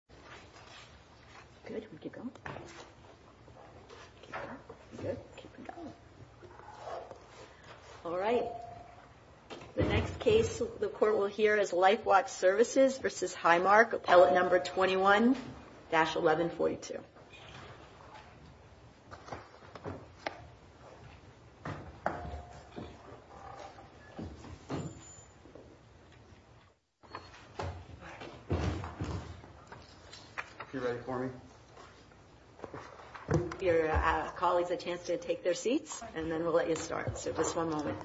Appellant 21-1142. If you're ready for me. Give your colleagues a chance to take their seats and then we'll let you start. So just one moment.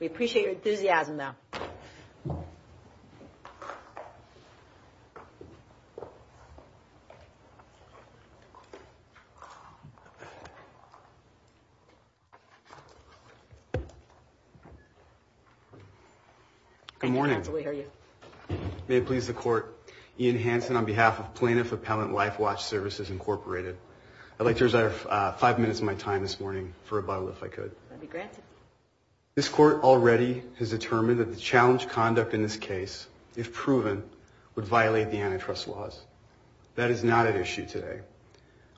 We appreciate your enthusiasm, though. Good morning. May it please the court. Ian Hansen on behalf of Plaintiff Appellant Life Watch Services Incorporated. I'd like to reserve five minutes of my time this morning for a bottle if I could be granted. This court already has determined that the challenge conduct in this case, if proven, would violate the antitrust laws. That is not an issue today.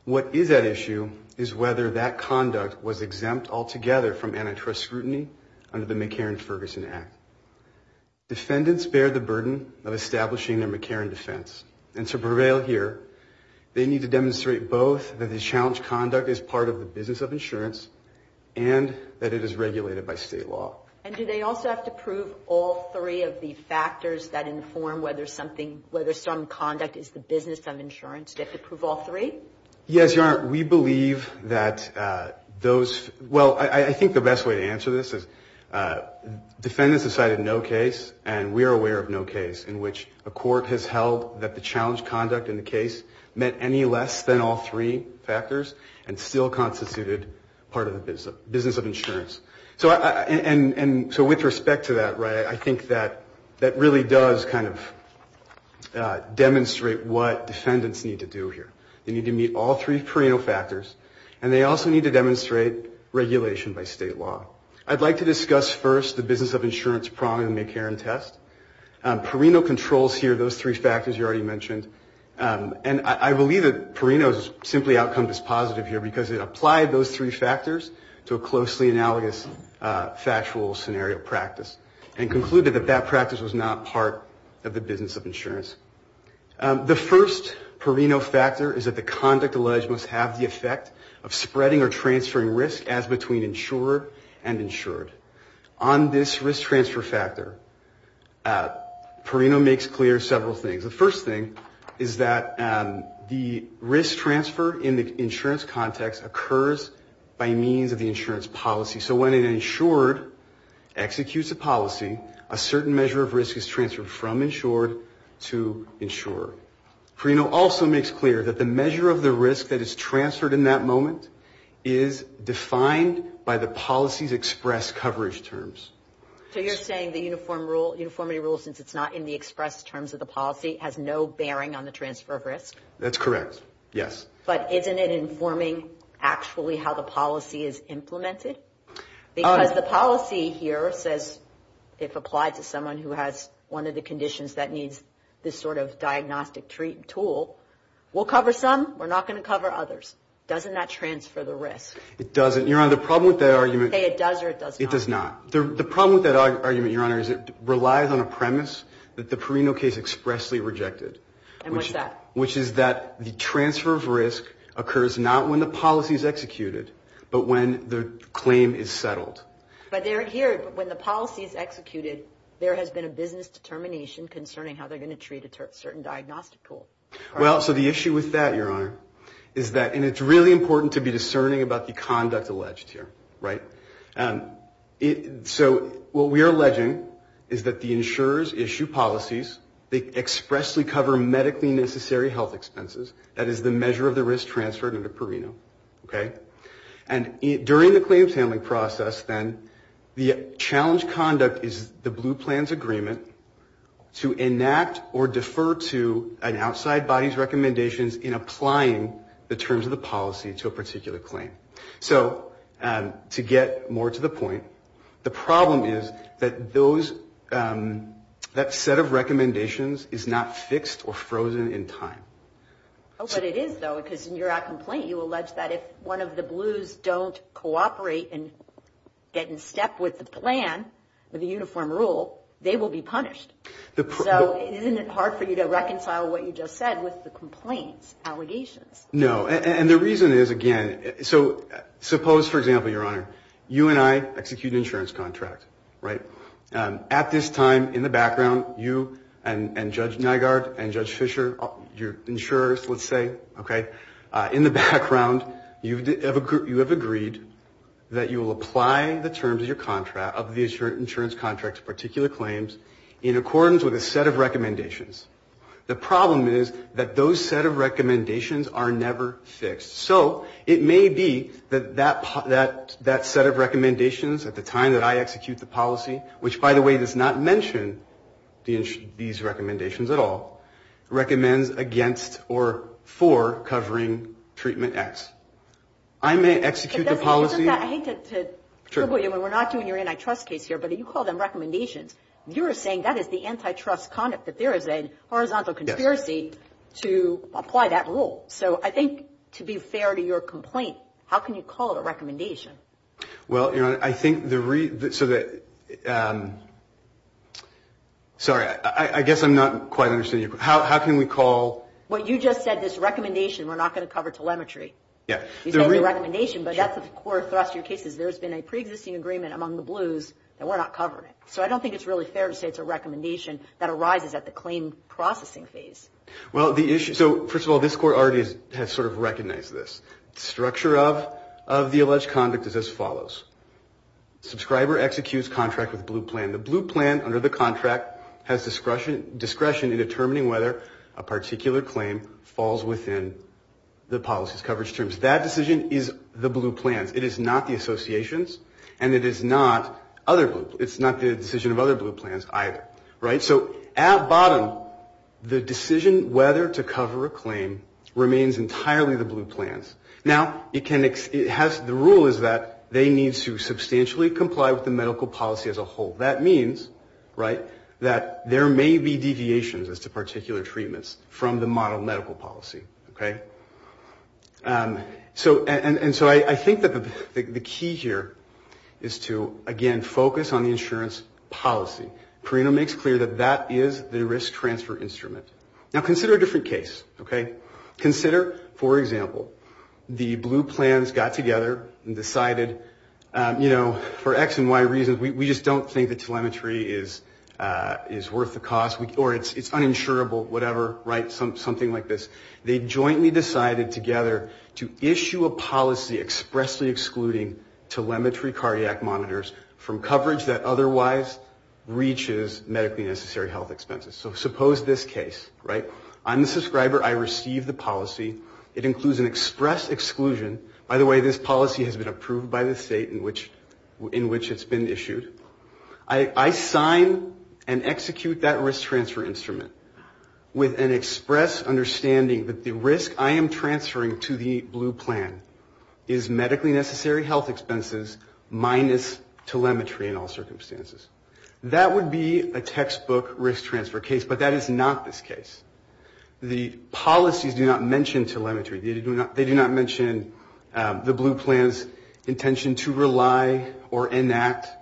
What is at issue is whether that conduct was exempt altogether from antitrust scrutiny under the McCarran-Ferguson Act. Defendants bear the burden of establishing their McCarran defense. And to prevail here, they need to demonstrate both that the challenge conduct is part of the business of insurance and that it is regulated by state law. And do they also have to prove all three of the factors that inform whether something, whether some conduct is the business of insurance? Do they have to prove all three? Yes, Your Honor. We believe that those, well, I think the best way to answer this is defendants decided no case and we are aware of no case in which a court has held that the challenge conduct in the case meant any less than all three factors and still constituted part of the business of insurance. So with respect to that, I think that really does kind of demonstrate what defendants need to do here. They need to meet all three perino factors and they also need to demonstrate regulation by state law. I'd like to discuss first the business of insurance prong in the McCarran test. Perino controls here, those three factors you already mentioned, and I believe that perino simply outcomes as positive here because it applied those three factors to a closely analogous factual scenario practice and concluded that that practice was not part of the business of insurance. The first perino factor is that the conduct alleged must have the effect of spreading or transferring risk as between insurer and insured. On this risk transfer factor, perino makes clear several things. The first thing is that the risk transfer in the insurance context occurs by means of the insurance policy. So when an insured executes a policy, a certain measure of risk is transferred from insured to insurer. Perino also makes clear that the measure of the risk that is transferred in that moment is defined by the policy's express coverage terms. So you're saying the uniformity rule, since it's not in the express terms of the policy, has no bearing on the transfer of risk? That's correct, yes. But isn't it informing actually how the policy is implemented? Because the policy here says if applied to someone who has one of the conditions that needs this sort of diagnostic tool, we'll cover some, we're not going to cover others. Doesn't that transfer the risk? It doesn't. Your Honor, the problem with that argument... Okay, it does or it does not? It does not. The problem with that argument, Your Honor, is it relies on a premise that the perino case expressly rejected. And what's that? Which is that the transfer of risk occurs not when the policy is executed, but when the claim is settled. But here, when the policy is executed, there has been a business determination concerning how they're going to treat a certain diagnostic tool. Well, so the issue with that, Your Honor, is that, and it's really important to be discerning about the conduct alleged here, right? So what we are alleging is that the insurers issue policies, they expressly cover medically necessary health expenses, that is the measure of the risk transferred under perino. And during the claims handling process, then, the challenge conduct is the blue plans agreement to enact or defer to an outside body's recommendations in applying the terms of the policy to a particular claim. So to get more to the point, the problem is that those, that set of recommendations is not fixed or frozen in time. But it is, though, because in your complaint, you allege that if one of the blues don't cooperate and get in step with the plan, the uniform rule, they will be punished. So isn't it hard for you to reconcile what you just said with the complaints, allegations? No. And the reason is, again, so suppose, for example, Your Honor, you and I execute an insurance contract, right? At this time, in the background, you and Judge Nygaard and Judge Fischer, your insurers, let's say, okay, in the background, you have agreed that you will apply the terms of your contract, of the insurance contract to particular claims in accordance with a set of recommendations. The problem is that those set of recommendations are never fixed. So it may be that that set of recommendations at the time that I execute the policy, which, by the way, does not mention these recommendations at all, recommends against or for covering treatment X. I may execute the policy. I hate to tribble you, and we're not doing your antitrust case here, but you call them recommendations. You are saying that is the antitrust conduct, that there is a horizontal conspiracy to apply that rule. So I think, to be fair to your complaint, how can you call it a recommendation? Well, Your Honor, I think the reason so that – sorry. I guess I'm not quite understanding your question. How can we call – Well, you just said this recommendation we're not going to cover telemetry. Yeah. You said the recommendation, but that's the core thrust of your case, is there's been a preexisting agreement among the Blues that we're not covering it. So I don't think it's really fair to say it's a recommendation that arises at the claim processing phase. Well, the issue – so, first of all, this Court already has sort of recognized this. The structure of the alleged conduct is as follows. Subscriber executes contract with Blue Plan. The Blue Plan, under the contract, has discretion in determining whether a particular claim falls within the policy's coverage terms. That decision is the Blue Plan's. It is not the Association's, and it is not other – it's not the decision of other Blue Plans either. Right? So at bottom, the decision whether to cover a claim remains entirely the Blue Plan's. Now, it can – it has – the rule is that they need to substantially comply with the medical policy as a whole. That means, right, that there may be deviations as to particular treatments from the model medical policy. Okay? So – and so I think that the key here is to, again, focus on the insurance policy. Carino makes clear that that is the risk transfer instrument. Now, consider a different case. Okay? Consider, for example, the Blue Plans got together and decided, you know, for X and Y reasons, we just don't think that telemetry is worth the cost or it's uninsurable, whatever, right, something like this. They jointly decided together to issue a policy expressly excluding telemetry cardiac monitors from coverage that otherwise reaches medically necessary health expenses. So suppose this case, right? I'm the subscriber. I receive the policy. It includes an express exclusion. By the way, this policy has been approved by the state in which it's been issued. I sign and execute that risk transfer instrument with an express understanding that the risk I am transferring to the Blue Plan is medically necessary health expenses minus telemetry in all circumstances. That would be a textbook risk transfer case, but that is not this case. The policies do not mention telemetry. They do not mention the Blue Plan's intention to rely on or enact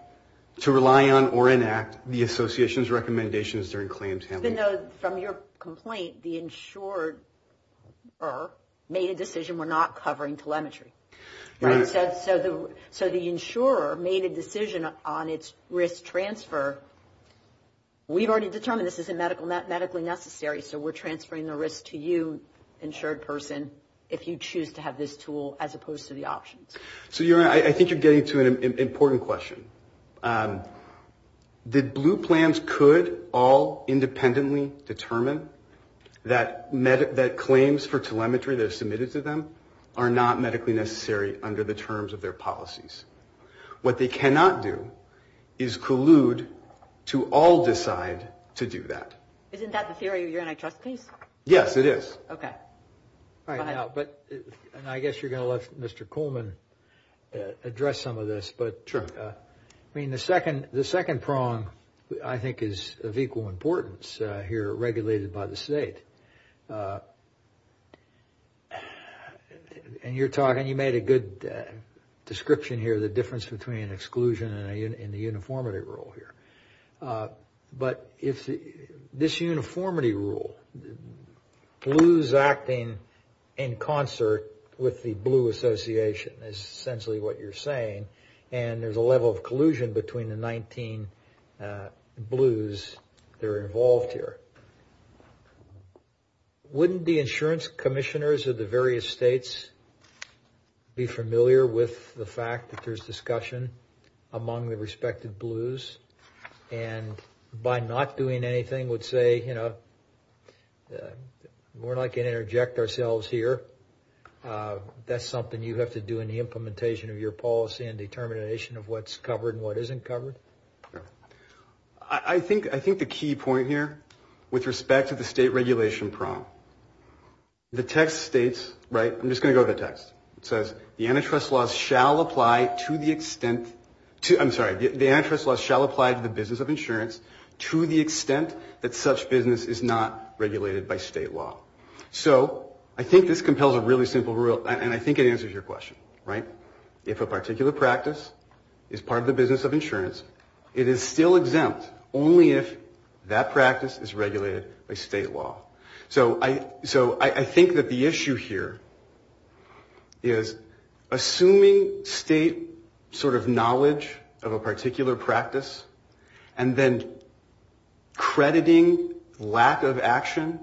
the association's recommendations during claims handling. Even though from your complaint, the insurer made a decision we're not covering telemetry. Right. So the insurer made a decision on its risk transfer. We've already determined this isn't medically necessary, so we're transferring the risk to you, insured person, if you choose to have this tool as opposed to the options. So I think you're getting to an important question. The Blue Plans could all independently determine that claims for telemetry that are submitted to them are not medically necessary under the terms of their policies. What they cannot do is collude to all decide to do that. Isn't that the theory of your antitrust case? Yes, it is. Okay. All right. But I guess you're going to let Mr. Coleman address some of this. Sure. I mean, the second prong, I think, is of equal importance here, regulated by the state. And you're talking, you made a good description here, the difference between exclusion and the uniformity rule here. But this uniformity rule, blues acting in concert with the blue association, is essentially what you're saying, and there's a level of collusion between the 19 blues that are involved here. Wouldn't the insurance commissioners of the various states be familiar with the fact that there's discussion among the respective blues, and by not doing anything would say, you know, we're not going to interject ourselves here. That's something you have to do in the implementation of your policy and determination of what's covered and what isn't covered. I think the key point here, with respect to the state regulation prong, the text states, right, I'm just going to go to the text. It says, the antitrust laws shall apply to the extent, I'm sorry, the antitrust laws shall apply to the business of insurance to the extent that such business is not regulated by state law. So I think this compels a really simple rule, and I think it answers your question, right? If a particular practice is part of the business of insurance, it is still exempt only if that practice is regulated by state law. So I think that the issue here is assuming state sort of knowledge of a particular practice and then crediting lack of action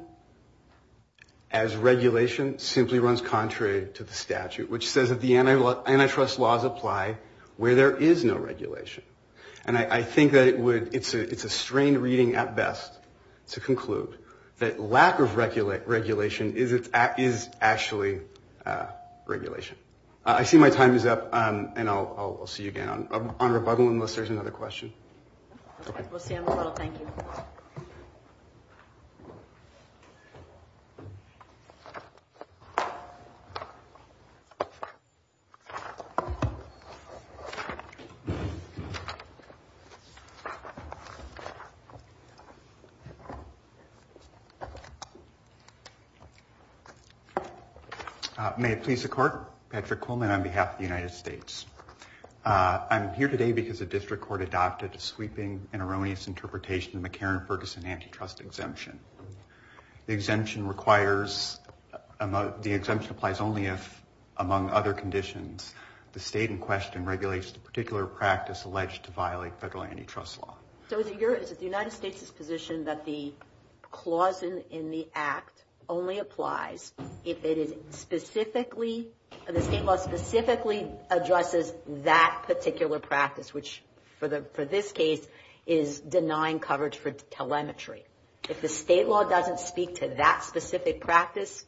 as regulation simply runs contrary to the statute, which says that the antitrust laws apply where there is no regulation. And I think that it would, it's a strained reading at best to conclude that lack of regulation is actually regulation. I see my time is up, and I'll see you again on rebuttal unless there's another question. We'll see you on rebuttal. Thank you. May it please the Court, Patrick Kuhlman on behalf of the United States. I'm here today because the district court adopted a sweeping and erroneous interpretation of the McCarran-Ferguson antitrust exemption. The exemption requires, the exemption applies only if, among other conditions, the state in question regulates the particular practice alleged to violate federal antitrust law. So is it the United States' position that the clause in the Act only applies if it is specifically, the state law specifically addresses that particular practice, which for this case is denying coverage for telemetry? If the state law doesn't speak to that specific practice,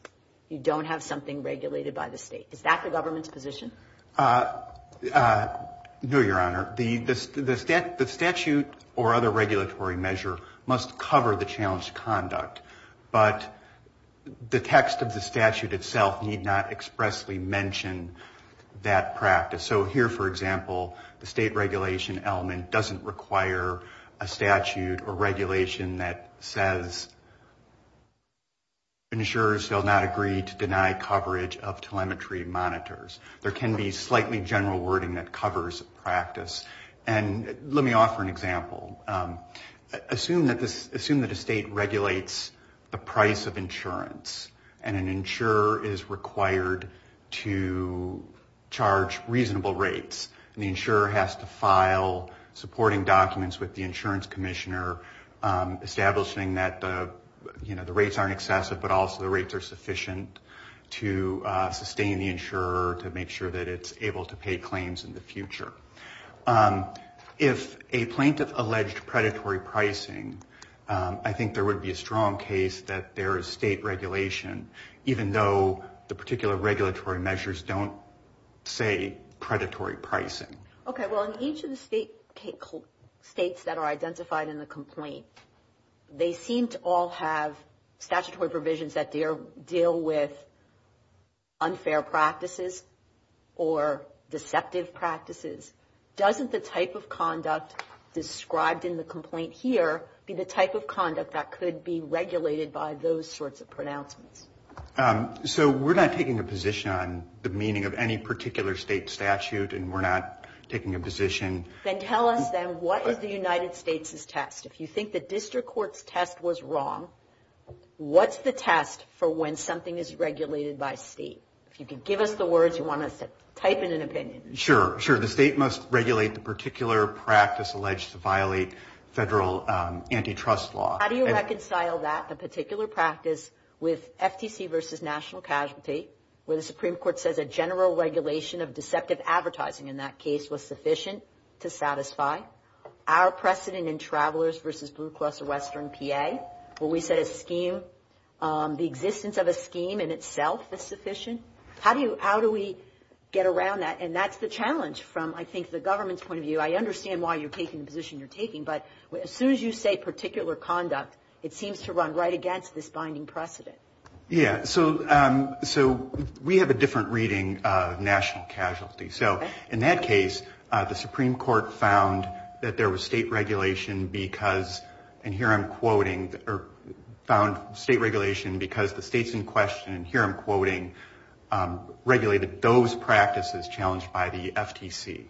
you don't have something regulated by the state. Is that the government's position? No, Your Honor. The statute or other regulatory measure must cover the challenged conduct, but the text of the statute itself need not expressly mention that practice. So here, for example, the state regulation element doesn't require a statute or regulation that says, ensures they'll not agree to deny coverage of telemetry monitors. There can be slightly general wording that covers practice. And let me offer an example. Assume that a state regulates the price of insurance, and an insurer is required to charge reasonable rates, and the insurer has to file supporting documents with the insurance commissioner, establishing that the rates aren't excessive, but also the rates are sufficient to sustain the insurer, to make sure that it's able to pay claims in the future. If a plaintiff alleged predatory pricing, I think there would be a strong case that there is state regulation, even though the particular regulatory measures don't say predatory pricing. Okay. Well, in each of the states that are identified in the complaint, they seem to all have statutory provisions that deal with unfair practices or deceptive practices. Doesn't the type of conduct described in the complaint here be the type of conduct that could be regulated by those sorts of pronouncements? So we're not taking a position on the meaning of any particular state statute, and we're not taking a position. Then tell us, then, what is the United States' test? If you think the district court's test was wrong, what's the test for when something is regulated by state? If you could give us the words you want us to type in an opinion. Sure, sure. The state must regulate the particular practice alleged to violate federal antitrust law. How do you reconcile that particular practice with FTC versus national casualty, where the Supreme Court says a general regulation of deceptive advertising in that case was sufficient to satisfy? Our precedent in Travelers versus Blue Cross or Western PA, where we said a scheme, the existence of a scheme in itself is sufficient? How do we get around that? And that's the challenge from, I think, the government's point of view. I understand why you're taking the position you're taking, but as soon as you say particular conduct, it seems to run right against this binding precedent. Yeah, so we have a different reading of national casualty. So in that case, the Supreme Court found that there was state regulation because, and here I'm quoting, found state regulation because the states in question, and here I'm quoting, regulated those practices challenged by the FTC.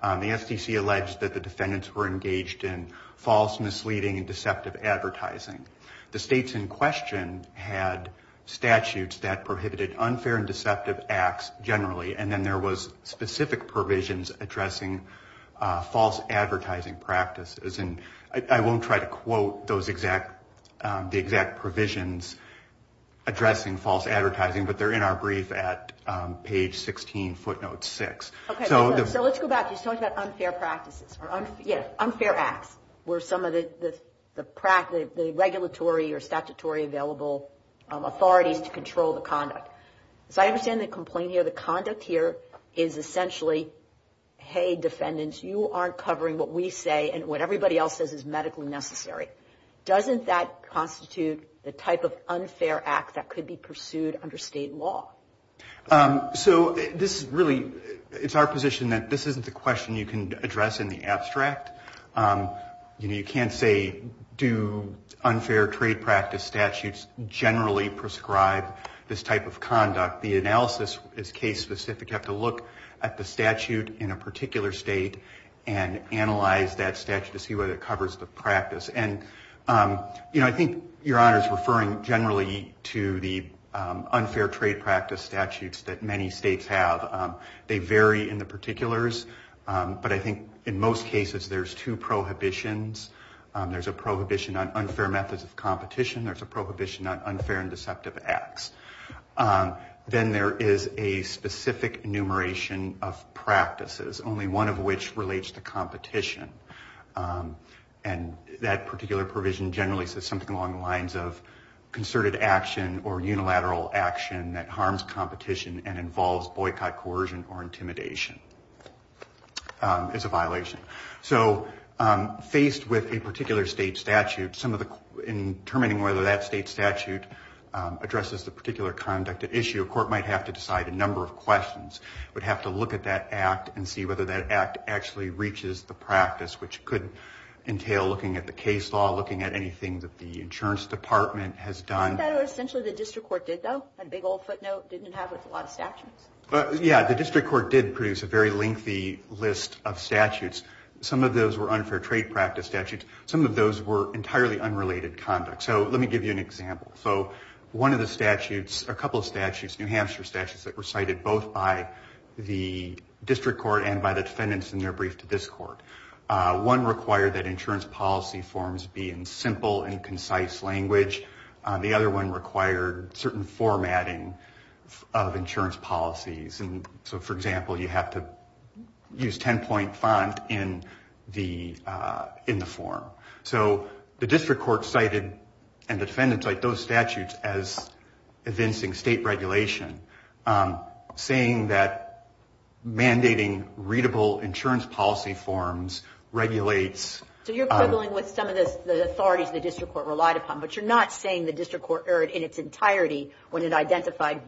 The FTC alleged that the defendants were engaged in false, misleading, and deceptive advertising. The states in question had statutes that prohibited unfair and deceptive acts generally, and then there was specific provisions addressing false advertising practices. And I won't try to quote the exact provisions addressing false advertising, but they're in our brief at page 16, footnote 6. Okay, so let's go back. You talked about unfair practices or unfair acts were some of the regulatory or statutory available authorities to control the conduct. So I understand the complaint here. The conduct here is essentially, hey, defendants, you aren't covering what we say and what everybody else says is medically necessary. Doesn't that constitute the type of unfair act that could be pursued under state law? So this is really, it's our position that this isn't the question you can address in the abstract. You can't say do unfair trade practice statutes generally prescribe this type of conduct. The analysis is case specific. You'd have to look at the statute in a particular state and analyze that statute to see whether it covers the practice. And I think Your Honor is referring generally to the unfair trade practice statutes that many states have. They vary in the particulars, but I think in most cases there's two prohibitions. There's a prohibition on unfair methods of competition. There's a prohibition on unfair and deceptive acts. Then there is a specific enumeration of practices, only one of which relates to competition. And that particular provision generally says something along the lines of concerted action or unilateral action that harms competition and involves boycott, coercion, or intimidation. It's a violation. So faced with a particular state statute, in determining whether that state statute addresses the particular conduct at issue, a court might have to decide a number of questions. It would have to look at that act and see whether that act actually reaches the practice, which could entail looking at the case law, looking at anything that the insurance department has done. I thought essentially the district court did, though. That big old footnote didn't have a lot of statutes. Yeah, the district court did produce a very lengthy list of statutes. Some of those were unfair trade practice statutes. Some of those were entirely unrelated conduct. So let me give you an example. So one of the statutes, a couple of statutes, New Hampshire statutes, that were cited both by the district court and by the defendants in their brief to this court. One required that insurance policy forms be in simple and concise language. The other one required certain formatting of insurance policies. So, for example, you have to use 10-point font in the form. So the district court cited and the defendants cited those statutes as evincing state regulation, saying that mandating readable insurance policy forms regulates. So you're quibbling with some of the authorities the district court relied upon, but you're not saying the district court erred in its entirety when it identified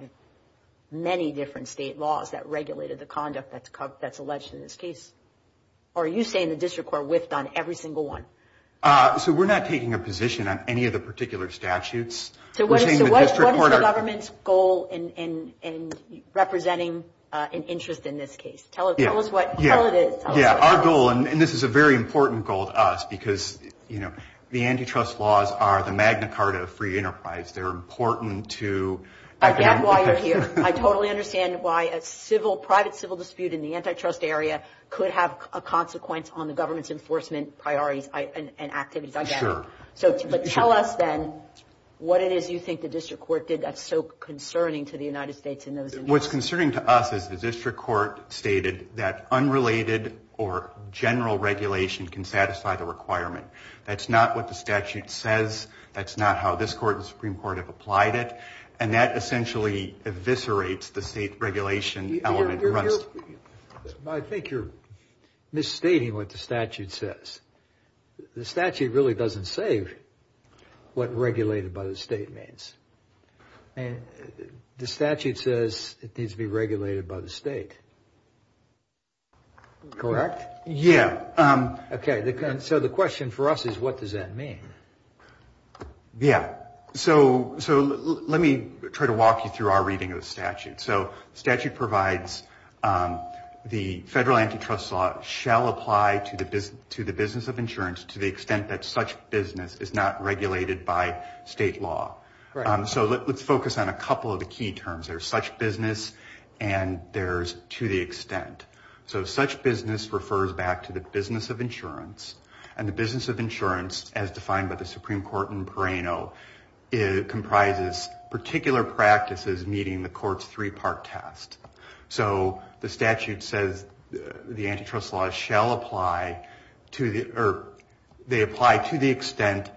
many different state laws that regulated the conduct that's alleged in this case. Or are you saying the district court whiffed on every single one? So we're not taking a position on any of the particular statutes. So what is the government's goal in representing an interest in this case? Tell us what it is. Yeah, our goal, and this is a very important goal to us, because, you know, the antitrust laws are the Magna Carta of free enterprise. They're important to. I get why you're here. I totally understand why a private civil dispute in the antitrust area could have a consequence on the government's enforcement priorities and activities. I get it. But tell us, then, what it is you think the district court did that's so concerning to the United States. What's concerning to us is the district court stated that unrelated or general regulation can satisfy the requirement. That's not what the statute says. That's not how this court and Supreme Court have applied it. And that essentially eviscerates the state regulation element. I think you're misstating what the statute says. The statute really doesn't say what regulated by the state means. The statute says it needs to be regulated by the state. Correct? Yeah. Okay. So the question for us is what does that mean? Yeah. So let me try to walk you through our reading of the statute. So the statute provides the federal antitrust law shall apply to the business of insurance to the extent that such business is not regulated by state law. Right. So let's focus on a couple of the key terms. There's such business and there's to the extent. So such business refers back to the business of insurance. And the business of insurance, as defined by the Supreme Court in Perrano, comprises particular practices meeting the court's three-part test. So the statute says the antitrust law shall apply to the extent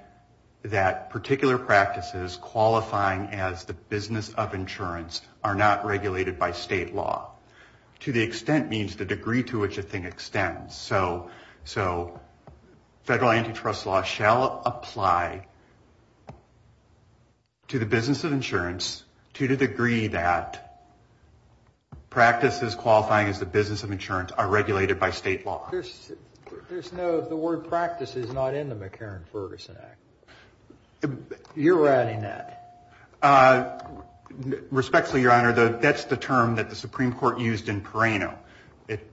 that particular practices qualifying as the business of insurance are not regulated by state law. To the extent means the degree to which a thing extends. So federal antitrust law shall apply to the business of insurance to the degree that practices qualifying as the business of insurance are regulated by state law. There's no, the word practice is not in the McCarran-Ferguson Act. You're writing that. Respectfully, Your Honor, that's the term that the Supreme Court used in Perrano.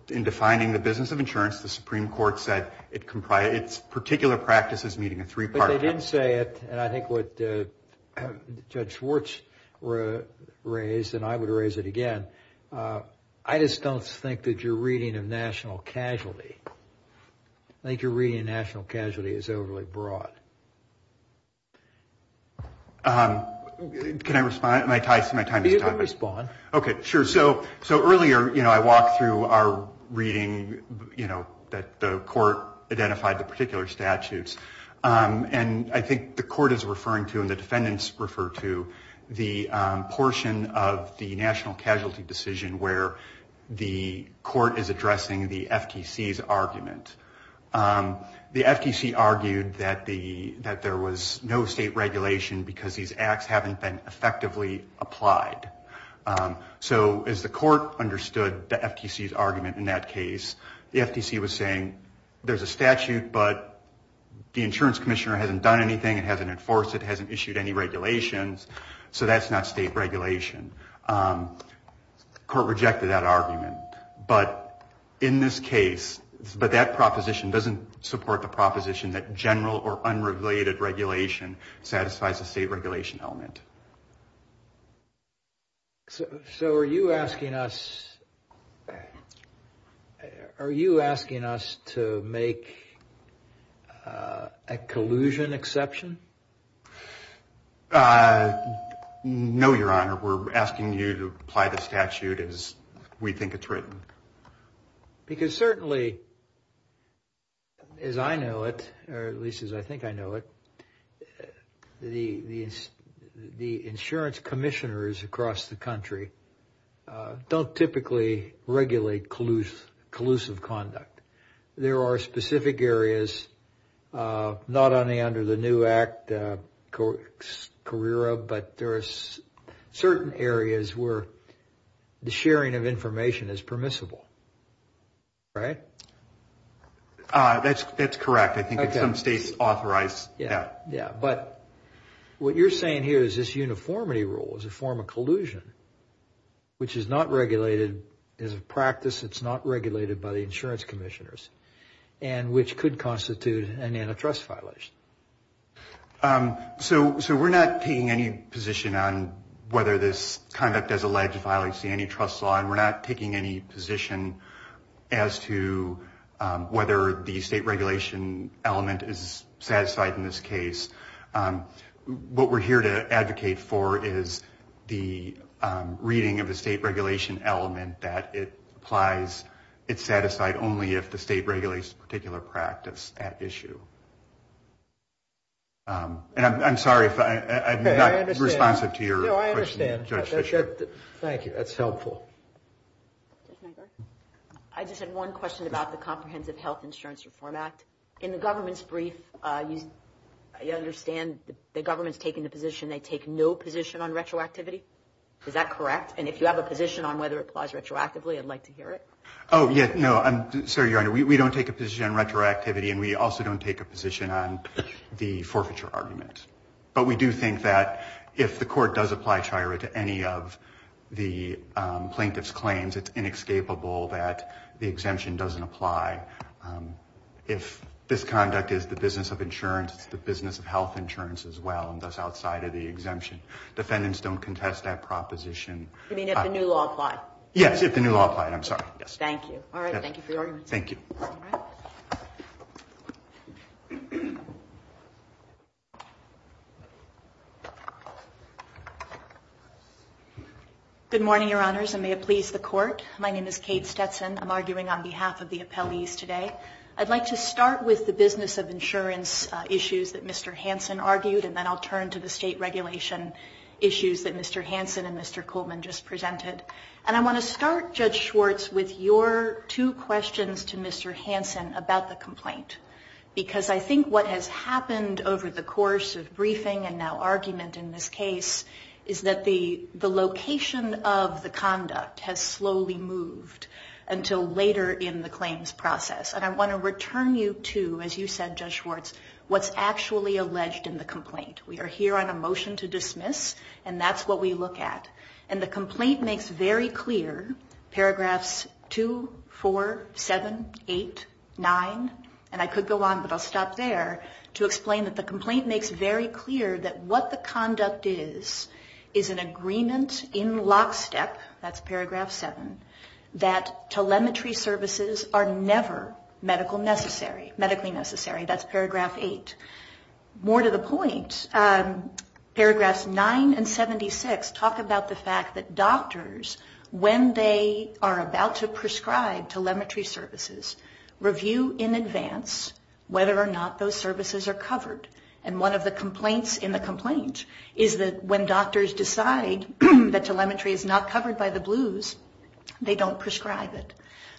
In defining the business of insurance, the Supreme Court said it's particular practices meeting a three-part test. If they didn't say it, and I think what Judge Schwartz raised and I would raise it again, I just don't think that your reading of national casualty, I think your reading of national casualty is overly broad. Can I respond? You can respond. Okay, sure. So earlier, you know, I walked through our reading, you know, that the court identified the particular statutes. And I think the court is referring to and the defendants refer to the portion of the national casualty decision where the court is addressing the FTC's argument. The FTC argued that there was no state regulation because these acts haven't been effectively applied. So as the court understood the FTC's argument in that case, the FTC was saying there's a statute, but the insurance commissioner hasn't done anything, it hasn't enforced it, it hasn't issued any regulations, so that's not state regulation. The court rejected that argument. But in this case, but that proposition doesn't support the proposition that general or unrelated regulation satisfies a state regulation element. So are you asking us to make a collusion exception? No, Your Honor. We're asking you to apply the statute as we think it's written. Because certainly, as I know it, or at least as I think I know it, the insurance commissioners across the country don't typically regulate collusive conduct. There are specific areas, not only under the new act, CARERA, but there are certain areas where the sharing of information is permissible, right? That's correct. I think some states authorize that. But what you're saying here is this uniformity rule is a form of collusion, which is not regulated as a practice, it's not regulated by the insurance commissioners, and which could constitute an antitrust violation. So we're not taking any position on whether this conduct is a legitimacy antitrust law, and we're not taking any position as to whether the state regulation element is satisfied in this case. What we're here to advocate for is the reading of the state regulation element that it applies, it's satisfied only if the state regulates a particular practice at issue. And I'm sorry if I'm not responsive to your question. No, I understand. Thank you. That's helpful. I just had one question about the Comprehensive Health Insurance Reform Act. In the government's brief, you understand the government's taking the position they take no position on retroactivity? Is that correct? And if you have a position on whether it applies retroactively, I'd like to hear it. Oh, yeah. No, I'm sorry, Your Honor. We don't take a position on retroactivity, and we also don't take a position on the forfeiture argument. But we do think that if the court does apply chiro to any of the plaintiff's claims, it's inescapable that the exemption doesn't apply. If this conduct is the business of insurance, it's the business of health insurance as well, and thus outside of the exemption. Defendants don't contest that proposition. You mean if the new law applied? Yes, if the new law applied. I'm sorry. Thank you. All right. Thank you for your argument. Thank you. Good morning, Your Honors, and may it please the Court. My name is Kate Stetson. I'm arguing on behalf of the appellees today. I'd like to start with the business of insurance issues that Mr. Hansen argued, and then I'll turn to the state regulation issues that Mr. Hansen and Mr. Coleman just presented. And I want to start, Judge Schwartz, with your two questions to Mr. Hansen about the complaint, because I think what has happened over the course of briefing and now argument in this case is that the location of the conduct has slowly moved until later in the claims process. And I want to return you to, as you said, Judge Schwartz, what's actually alleged in the complaint. We are here on a motion to dismiss, and that's what we look at. And the complaint makes very clear, paragraphs 2, 4, 7, 8, 9, and I could go on, but I'll stop there, to explain that the complaint makes very clear that what the conduct is is an agreement in lockstep, that's paragraph 7, that telemetry services are never medically necessary. That's paragraph 8. More to the point, paragraphs 9 and 76 talk about the fact that doctors, when they are about to prescribe telemetry services, review in advance whether or not those services are covered. And one of the complaints in the complaint is that when doctors decide that telemetry is not covered by the blues, they don't prescribe it.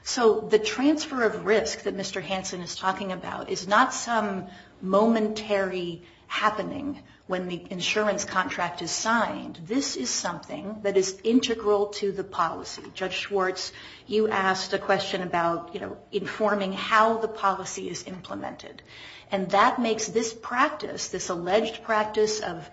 So the transfer of risk that Mr. Hansen is talking about is not some momentary happening when the insurance contract is signed. This is something that is integral to the policy. Judge Schwartz, you asked a question about, you know, informing how the policy is implemented. And that makes this practice, this alleged practice of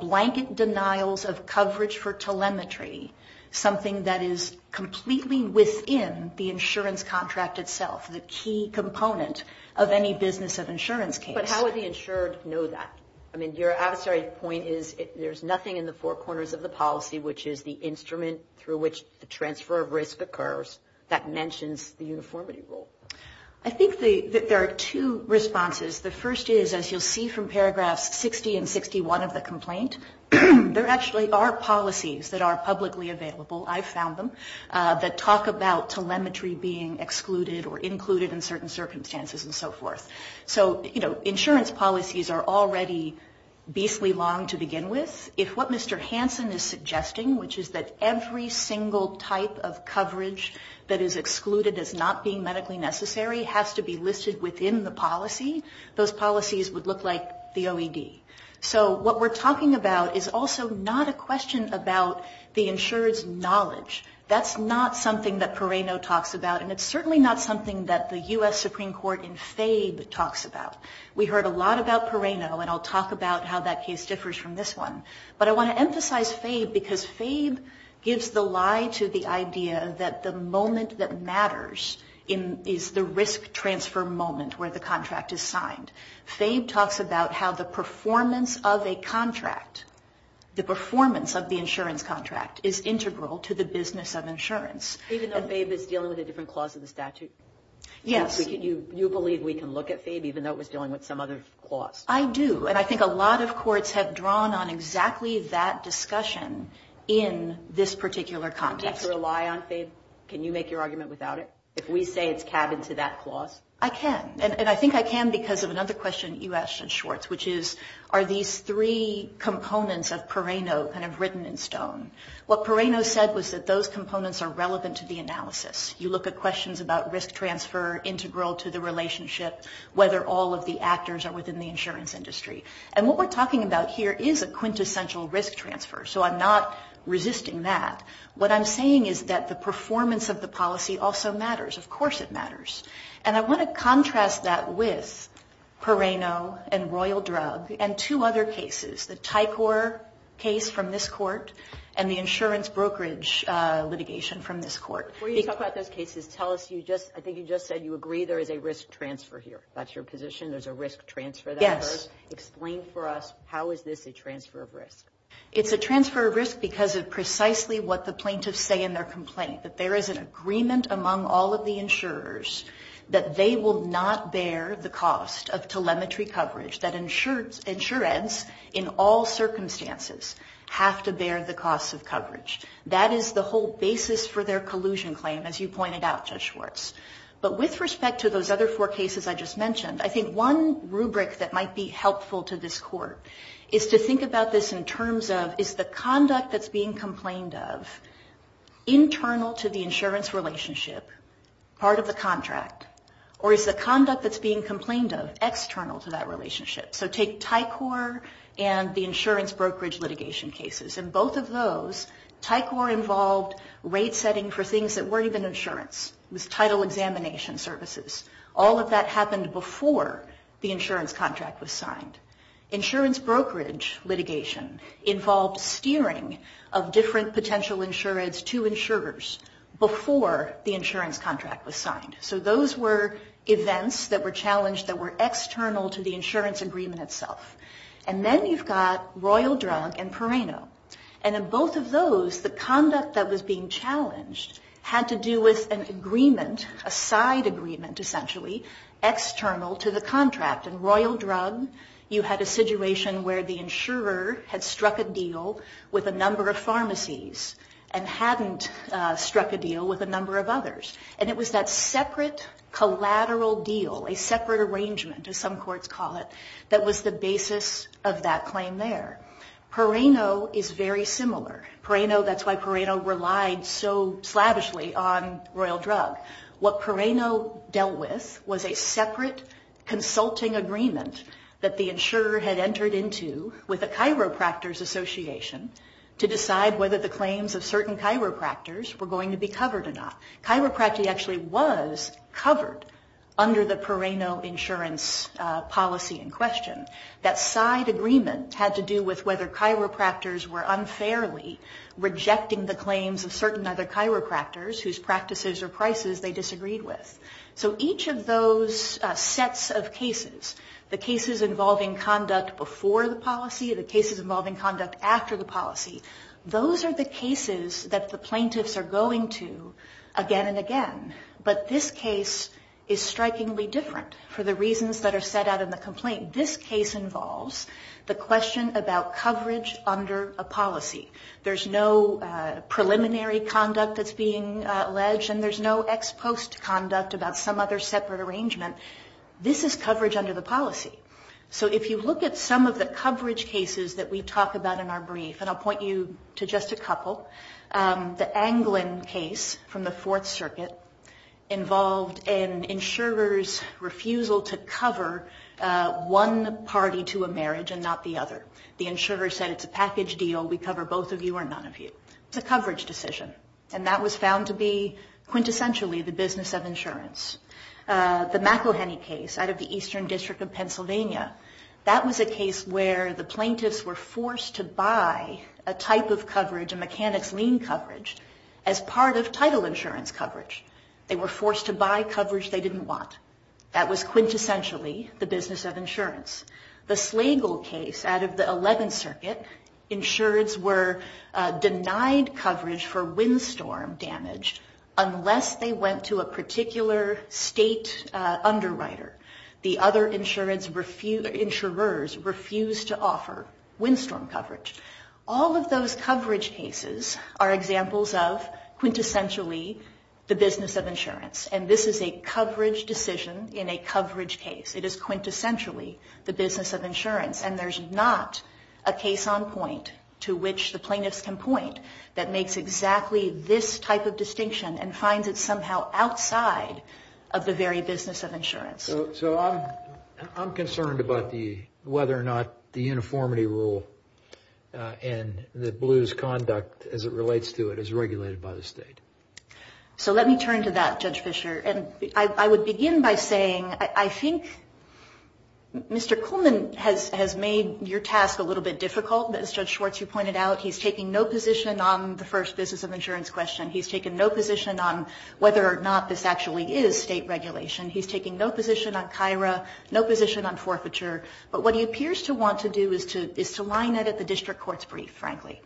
blanket denials of coverage for telemetry, something that is completely within the insurance contract itself, the key component of any business of insurance case. But how would the insured know that? I mean, your adversary point is there's nothing in the four corners of the policy, which is the instrument through which the transfer of risk occurs, that mentions the uniformity rule. I think that there are two responses. The first is, as you'll see from paragraphs 60 and 61 of the complaint, there actually are policies that are publicly available, I've found them, that talk about telemetry being excluded or included in certain circumstances and so forth. So, you know, insurance policies are already beastly long to begin with. If what Mr. Hansen is suggesting, which is that every single type of coverage that is excluded as not being medically necessary has to be listed within the policy, those policies would look like the OED. So what we're talking about is also not a question about the insurer's knowledge. That's not something that Perrano talks about, and it's certainly not something that the U.S. Supreme Court in FABE talks about. We heard a lot about Perrano, and I'll talk about how that case differs from this one. But I want to emphasize FABE because FABE gives the lie to the idea that the moment that matters is the risk transfer moment where the contract is signed. FABE talks about how the performance of a contract, the performance of the insurance contract is integral to the business of insurance. Even though FABE is dealing with a different clause of the statute? Yes. You believe we can look at FABE even though it was dealing with some other clause? I do, and I think a lot of courts have drawn on exactly that discussion in this particular context. Do you need to rely on FABE? Can you make your argument without it? If we say it's cabined to that clause? I can, and I think I can because of another question you asked in Schwartz, which is are these three components of Perrano kind of written in stone? What Perrano said was that those components are relevant to the analysis. You look at questions about risk transfer, integral to the relationship, whether all of the actors are within the insurance industry, and what we're talking about here is a quintessential risk transfer, so I'm not resisting that. What I'm saying is that the performance of the policy also matters. Of course it matters, and I want to contrast that with Perrano and Royal Drug and two other cases, the Tycor case from this court and the insurance brokerage litigation from this court. Before you talk about those cases, I think you just said you agree there is a risk transfer here. That's your position, there's a risk transfer there? Yes. Explain for us how is this a transfer of risk? It's a transfer of risk because of precisely what the plaintiffs say in their complaint, that there is an agreement among all of the insurers that they will not bear the cost of telemetry coverage, that insurance in all circumstances have to bear the cost of coverage. That is the whole basis for their collusion claim, as you pointed out, Judge Schwartz. But with respect to those other four cases I just mentioned, I think one rubric that might be helpful to this court is to think about this in terms of, is the conduct that's being complained of internal to the insurance relationship, part of the contract, or is the conduct that's being complained of external to that relationship? So take Tycor and the insurance brokerage litigation cases, and both of those, Tycor involved rate setting for things that weren't even insurance. It was title examination services. All of that happened before the insurance contract was signed. Insurance brokerage litigation involved steering of different potential insurance to insurers before the insurance contract was signed. So those were events that were challenged that were external to the insurance agreement itself. And then you've got Royal Drug and Parano. And in both of those, the conduct that was being challenged had to do with an agreement, a side agreement essentially, external to the contract. In Royal Drug, you had a situation where the insurer had struck a deal with a number of pharmacies and hadn't struck a deal with a number of others. And it was that separate collateral deal, a separate arrangement, as some courts call it, that was the basis of that claim there. Parano is very similar. Parano, that's why Parano relied so slavishly on Royal Drug. What Parano dealt with was a separate consulting agreement that the insurer had entered into with a chiropractors association to decide whether the claims of certain chiropractors were going to be covered or not. Chiropractic actually was covered under the Parano insurance policy in question. That side agreement had to do with whether chiropractors were unfairly rejecting the claims of certain other chiropractors whose practices or prices they disagreed with. So each of those sets of cases, the cases involving conduct before the policy, the cases involving conduct after the policy, those are the cases that the plaintiffs are going to again and again. But this case is strikingly different for the reasons that are set out in the complaint. This case involves the question about coverage under a policy. There's no preliminary conduct that's being alleged and there's no ex post conduct about some other separate arrangement. This is coverage under the policy. So if you look at some of the coverage cases that we talk about in our brief, and I'll point you to just a couple, the Anglin case from the Fourth Circuit involved an insurer's refusal to cover one party to a marriage and not the other. The insurer said it's a package deal. We cover both of you or none of you. It's a coverage decision. And that was found to be quintessentially the business of insurance. The McElhenney case out of the Eastern District of Pennsylvania, that was a case where the plaintiffs were forced to buy a type of coverage, a mechanic's lien coverage, as part of title insurance coverage. They were forced to buy coverage they didn't want. That was quintessentially the business of insurance. The Slagle case out of the Eleventh Circuit, insureds were denied coverage for windstorm damage unless they went to a particular state underwriter. The other insurers refused to offer windstorm coverage. All of those coverage cases are examples of quintessentially the business of insurance. And this is a coverage decision in a coverage case. It is quintessentially the business of insurance. And there's not a case on point to which the plaintiffs can point that makes exactly this type of distinction and finds it somehow outside of the very business of insurance. So I'm concerned about whether or not the uniformity rule and the blues conduct as it relates to it is regulated by the state. So let me turn to that, Judge Fischer. And I would begin by saying I think Mr. Coleman has made your task a little bit difficult. As Judge Schwartz, you pointed out, he's taking no position on the first business of insurance question. He's taken no position on whether or not this actually is state regulation. He's taking no position on KIRA, no position on forfeiture. But what he appears to want to do is to line it at the district court's brief, frankly,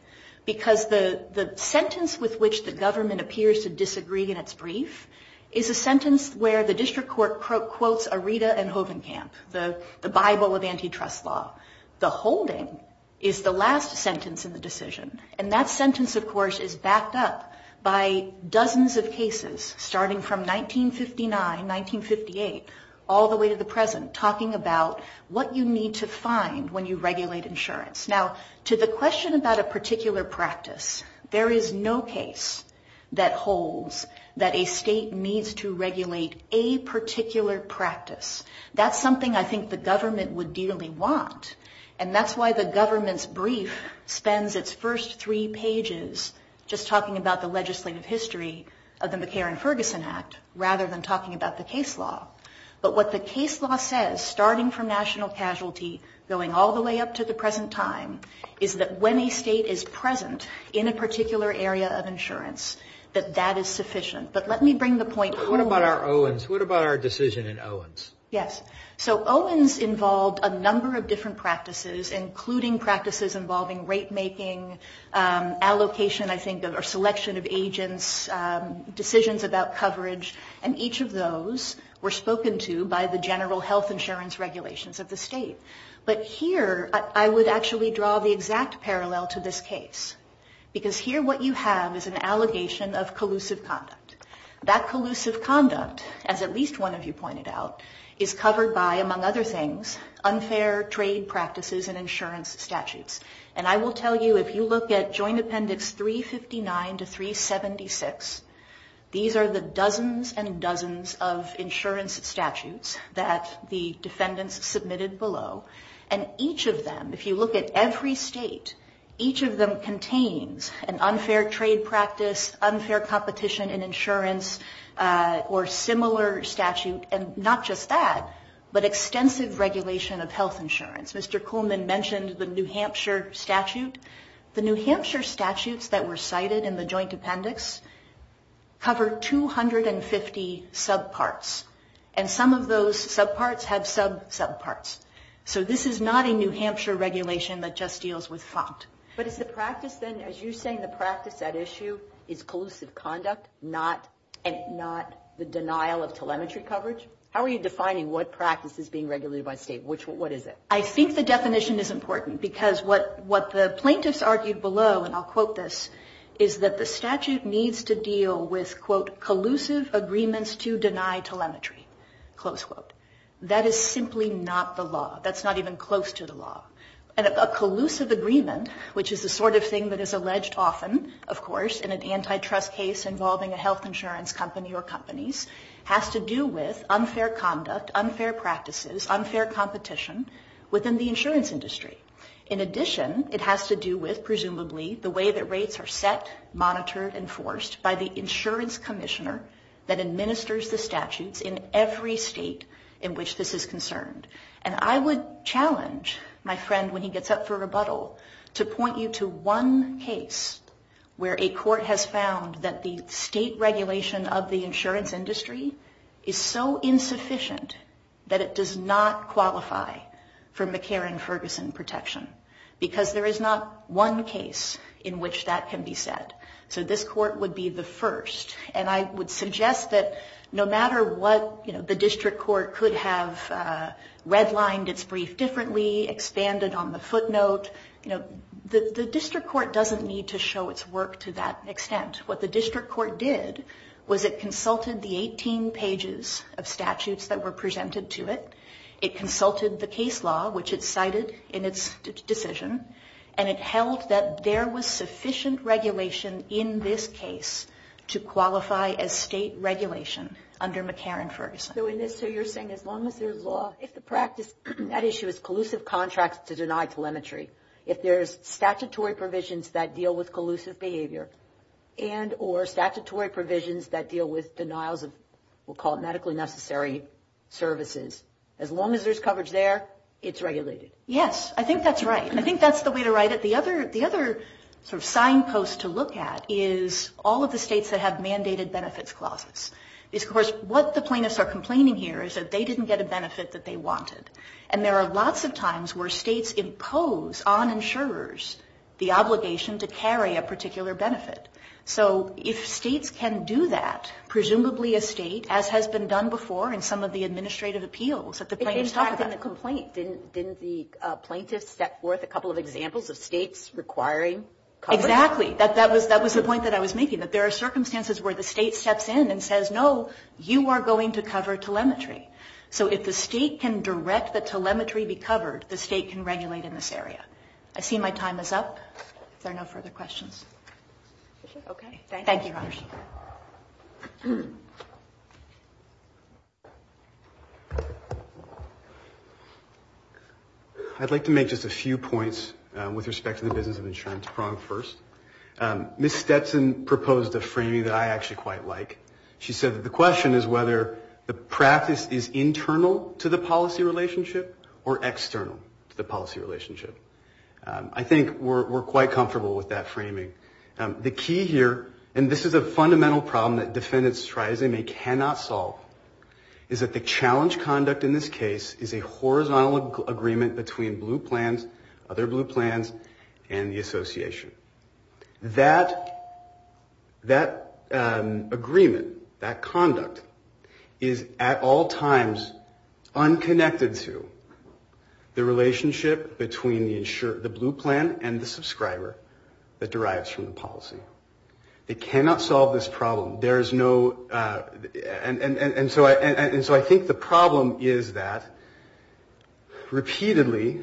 because the sentence with which the government appears to disagree in its brief is a sentence where the district court quotes Aretha and Hovenkamp, the Bible of antitrust law. The holding is the last sentence in the decision. And that sentence, of course, is backed up by dozens of cases, starting from 1959, 1958, all the way to the present, talking about what you need to find when you regulate insurance. Now, to the question about a particular practice, there is no case that holds that a state needs to regulate a particular practice. That's something I think the government would dearly want. And that's why the government's brief spends its first three pages just talking about the legislative history of the McCarran-Ferguson Act rather than talking about the case law. But what the case law says, starting from national casualty, going all the way up to the present time, is that when a state is present in a particular area of insurance, that that is sufficient. But let me bring the point forward. But what about our Owens? What about our decision in Owens? Yes. So Owens involved a number of different practices, including practices involving rate-making, allocation, I think, or selection of agents, decisions about coverage. And each of those were spoken to by the general health insurance regulations of the state. But here I would actually draw the exact parallel to this case, because here what you have is an allegation of collusive conduct. That collusive conduct, as at least one of you pointed out, is covered by, among other things, unfair trade practices and insurance statutes. And I will tell you, if you look at Joint Appendix 359 to 376, these are the dozens and dozens of insurance statutes that the defendants submitted below. And each of them, if you look at every state, each of them contains an unfair trade practice, unfair competition in insurance, or similar statute, and not just that, but extensive regulation of health insurance. Mr. Coleman mentioned the New Hampshire statute. The New Hampshire statutes that were cited in the Joint Appendix cover 250 subparts, and some of those subparts have sub-subparts. So this is not a New Hampshire regulation that just deals with font. But is the practice then, as you're saying, the practice at issue is collusive conduct, not the denial of telemetry coverage? How are you defining what practice is being regulated by state? What is it? I think the definition is important because what the plaintiffs argued below, and I'll quote this, is that the statute needs to deal with, quote, collusive agreements to deny telemetry, close quote. That is simply not the law. That's not even close to the law. A collusive agreement, which is the sort of thing that is alleged often, of course, in an antitrust case involving a health insurance company or companies, has to do with unfair conduct, unfair practices, unfair competition within the insurance industry. In addition, it has to do with, presumably, the way that rates are set, monitored, and forced by the insurance commissioner that administers the statutes in every state in which this is concerned. And I would challenge my friend, when he gets up for rebuttal, to point you to one case where a court has found that the state regulation of the insurance industry is so insufficient that it does not qualify for McCarran-Ferguson protection because there is not one case in which that can be said. So this court would be the first. And I would suggest that no matter what the district court could have redlined its brief differently, expanded on the footnote, the district court doesn't need to show its work to that extent. What the district court did was it consulted the 18 pages of statutes that were presented to it. It consulted the case law, which it cited in its decision, and it held that there was sufficient regulation in this case to qualify as state regulation under McCarran-Ferguson. So in this, you're saying as long as there's law, if the practice at issue is collusive contracts to deny telemetry, if there's statutory provisions that deal with collusive behavior, and or statutory provisions that deal with denials of what we'll call medically necessary services, as long as there's coverage there, it's regulated. Yes, I think that's right. I think that's the way to write it. The other signpost to look at is all of the states that have mandated benefits clauses. Of course, what the plaintiffs are complaining here is that they didn't get a benefit that they wanted. And there are lots of times where states impose on insurers the obligation to carry a particular benefit. So if states can do that, presumably a state, as has been done before in some of the administrative appeals that the plaintiffs talk about. But in the complaint, didn't the plaintiffs step forth a couple of examples of states requiring coverage? Exactly. That was the point that I was making, that there are circumstances where the state steps in and says, no, you are going to cover telemetry. So if the state can direct the telemetry be covered, the state can regulate in this area. If there are no further questions. Okay. Thank you. Thank you, Robert. Any other questions? I'd like to make just a few points with respect to the business of insurance. Prong first. Ms. Stetson proposed a framing that I actually quite like. She said that the question is whether the practice is internal to the policy relationship or external to the policy relationship. I think we're quite comfortable with that framing. The key here, and this is a fundamental problem that defendants try as they may cannot solve, is that the challenge conduct in this case is a horizontal agreement between Blue Plans, other Blue Plans, and the association. That agreement, that conduct, is at all times unconnected to the relationship between the Blue Plan and the subscriber that derives from the policy. They cannot solve this problem. There is no, and so I think the problem is that repeatedly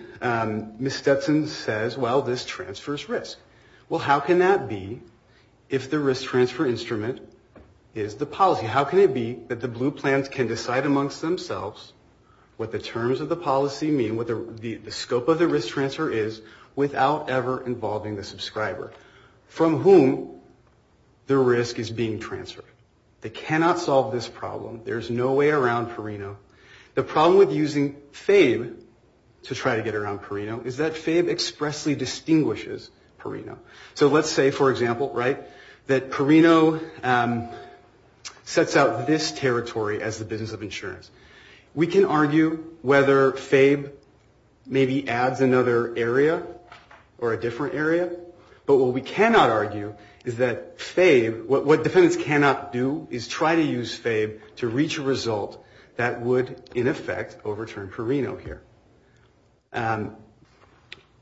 Ms. Stetson says, well, this transfers risk. Well, how can that be if the risk transfer instrument is the policy? How can it be that the Blue Plans can decide amongst themselves what the terms of the policy mean, what the scope of the risk transfer is without ever involving the subscriber from whom the risk is being transferred? They cannot solve this problem. There is no way around Perino. The problem with using FABE to try to get around Perino is that FABE expressly distinguishes Perino. So let's say, for example, right, that Perino sets out this territory as the business of insurance. We can argue whether FABE maybe adds another area or a different area, but what we cannot argue is that FABE, what defendants cannot do is try to use FABE to reach a result that would, in effect, overturn Perino here.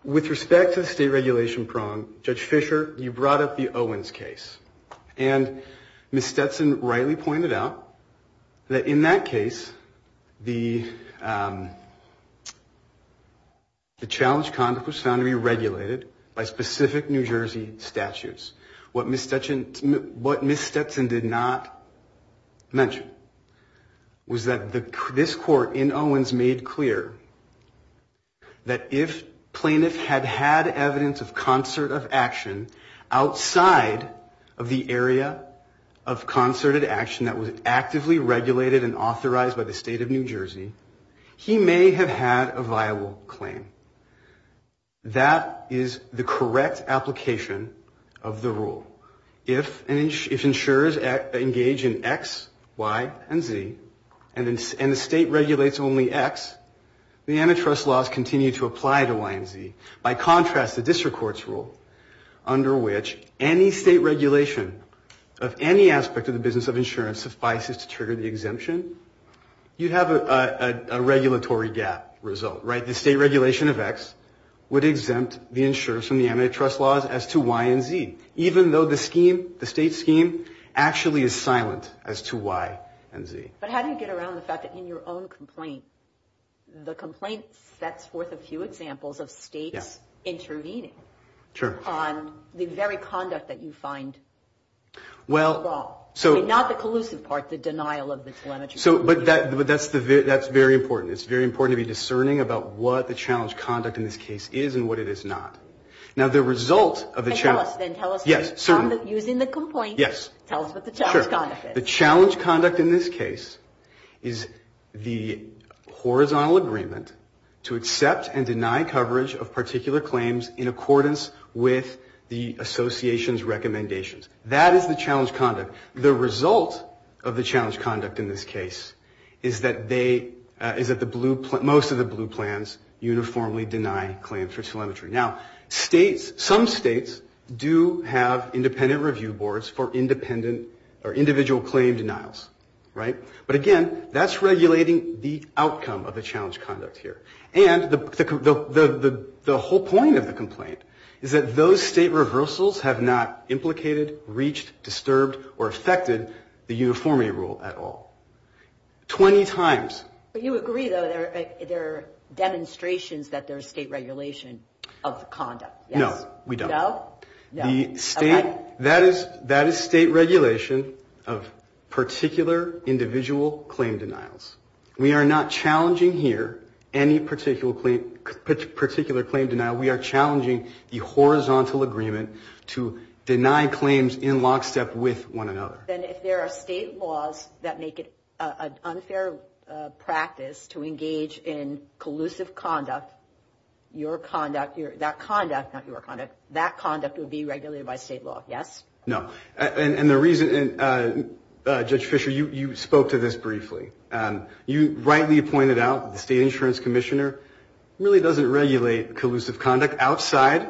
With respect to the state regulation prong, Judge Fisher, you brought up the Owens case, and Ms. Stetson rightly pointed out that in that case, the challenge conduct was found to be regulated by specific New Jersey statutes. What Ms. Stetson did not mention was that this court in Owens made clear that if plaintiff had had evidence of concert of action outside of the area of concerted action that was actively regulated and authorized by the state of New Jersey, he may have had a viable claim. That is the correct application of the rule. If insurers engage in X, Y, and Z, and the state regulates only X, the antitrust laws continue to apply to Y and Z. By contrast, the district court's rule, under which any state regulation of any aspect of the business of insurance suffices to trigger the exemption, you have a regulatory gap result, right? The state regulation of X would exempt the insurers from the antitrust laws as to Y and Z, even though the state scheme actually is silent as to Y and Z. But how do you get around the fact that in your own complaint, the complaint sets forth a few examples of states intervening on the very conduct that you find wrong? Not the collusive part, the denial of the telemetry. But that's very important. It's very important to be discerning about what the challenge conduct in this case is and what it is not. Now, the result of the challenge. And tell us then. Yes, certainly. Using the complaint. Yes. Tell us what the challenge conduct is. Sure. The challenge conduct in this case is the horizontal agreement to accept and deny coverage of particular claims in accordance with the association's recommendations. That is the challenge conduct. The result of the challenge conduct in this case is that most of the blue plans uniformly deny claims for telemetry. Now, some states do have independent review boards for individual claim denials. But, again, that's regulating the outcome of the challenge conduct here. And the whole point of the complaint is that those state reversals have not implicated, reached, disturbed, or affected the uniformity rule at all 20 times. But you agree, though, there are demonstrations that there's state regulation of conduct. No, we don't. No? No. That is state regulation of particular individual claim denials. We are not challenging here any particular claim denial. We are challenging the horizontal agreement to deny claims in lockstep with one another. Then if there are state laws that make it an unfair practice to engage in collusive conduct, your conduct, that conduct, not your conduct, that conduct would be regulated by state law, yes? No. And the reason, Judge Fischer, you spoke to this briefly. You rightly pointed out that the state insurance commissioner really doesn't regulate collusive conduct outside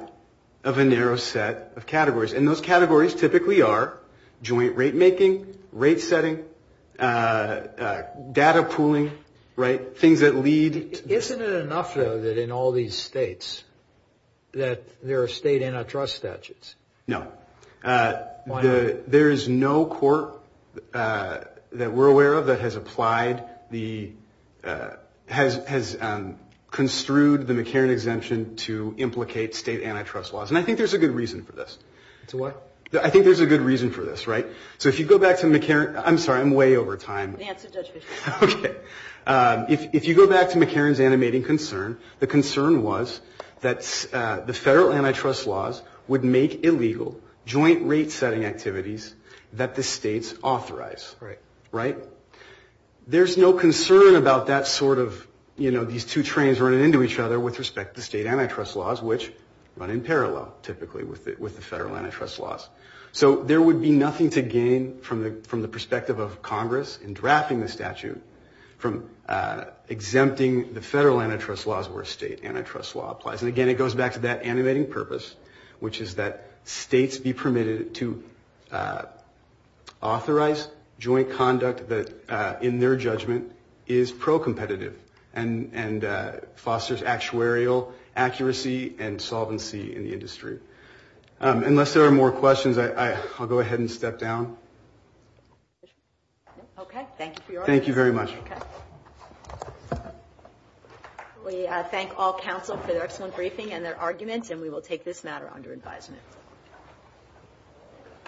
of a narrow set of categories. And those categories typically are joint rate making, rate setting, data pooling, right, things that lead. Isn't it enough, though, that in all these states that there are state antitrust statutes? No. Why not? There is no court that we're aware of that has applied the, has construed the McCarran exemption to implicate state antitrust laws. And I think there's a good reason for this. To what? I think there's a good reason for this, right? So if you go back to McCarran, I'm sorry, I'm way over time. Answer, Judge Fischer. Okay. If you go back to McCarran's animating concern, the concern was that the federal antitrust laws would make illegal joint rate setting activities that the states authorize. Right. Right? There's no concern about that sort of, you know, these two trains running into each other with respect to state antitrust laws, which run in parallel typically with the federal antitrust laws. So there would be nothing to gain from the perspective of Congress in drafting the statute from exempting the federal antitrust laws where state antitrust law applies. And, again, it goes back to that animating purpose, which is that states be permitted to authorize joint conduct that, in their judgment, is pro-competitive and fosters actuarial accuracy and solvency in the industry. Unless there are more questions, I'll go ahead and step down. Okay. Thank you for your audience. Thank you very much. Okay. We thank all counsel for their excellent briefing and their arguments, and we will take this matter under advisement.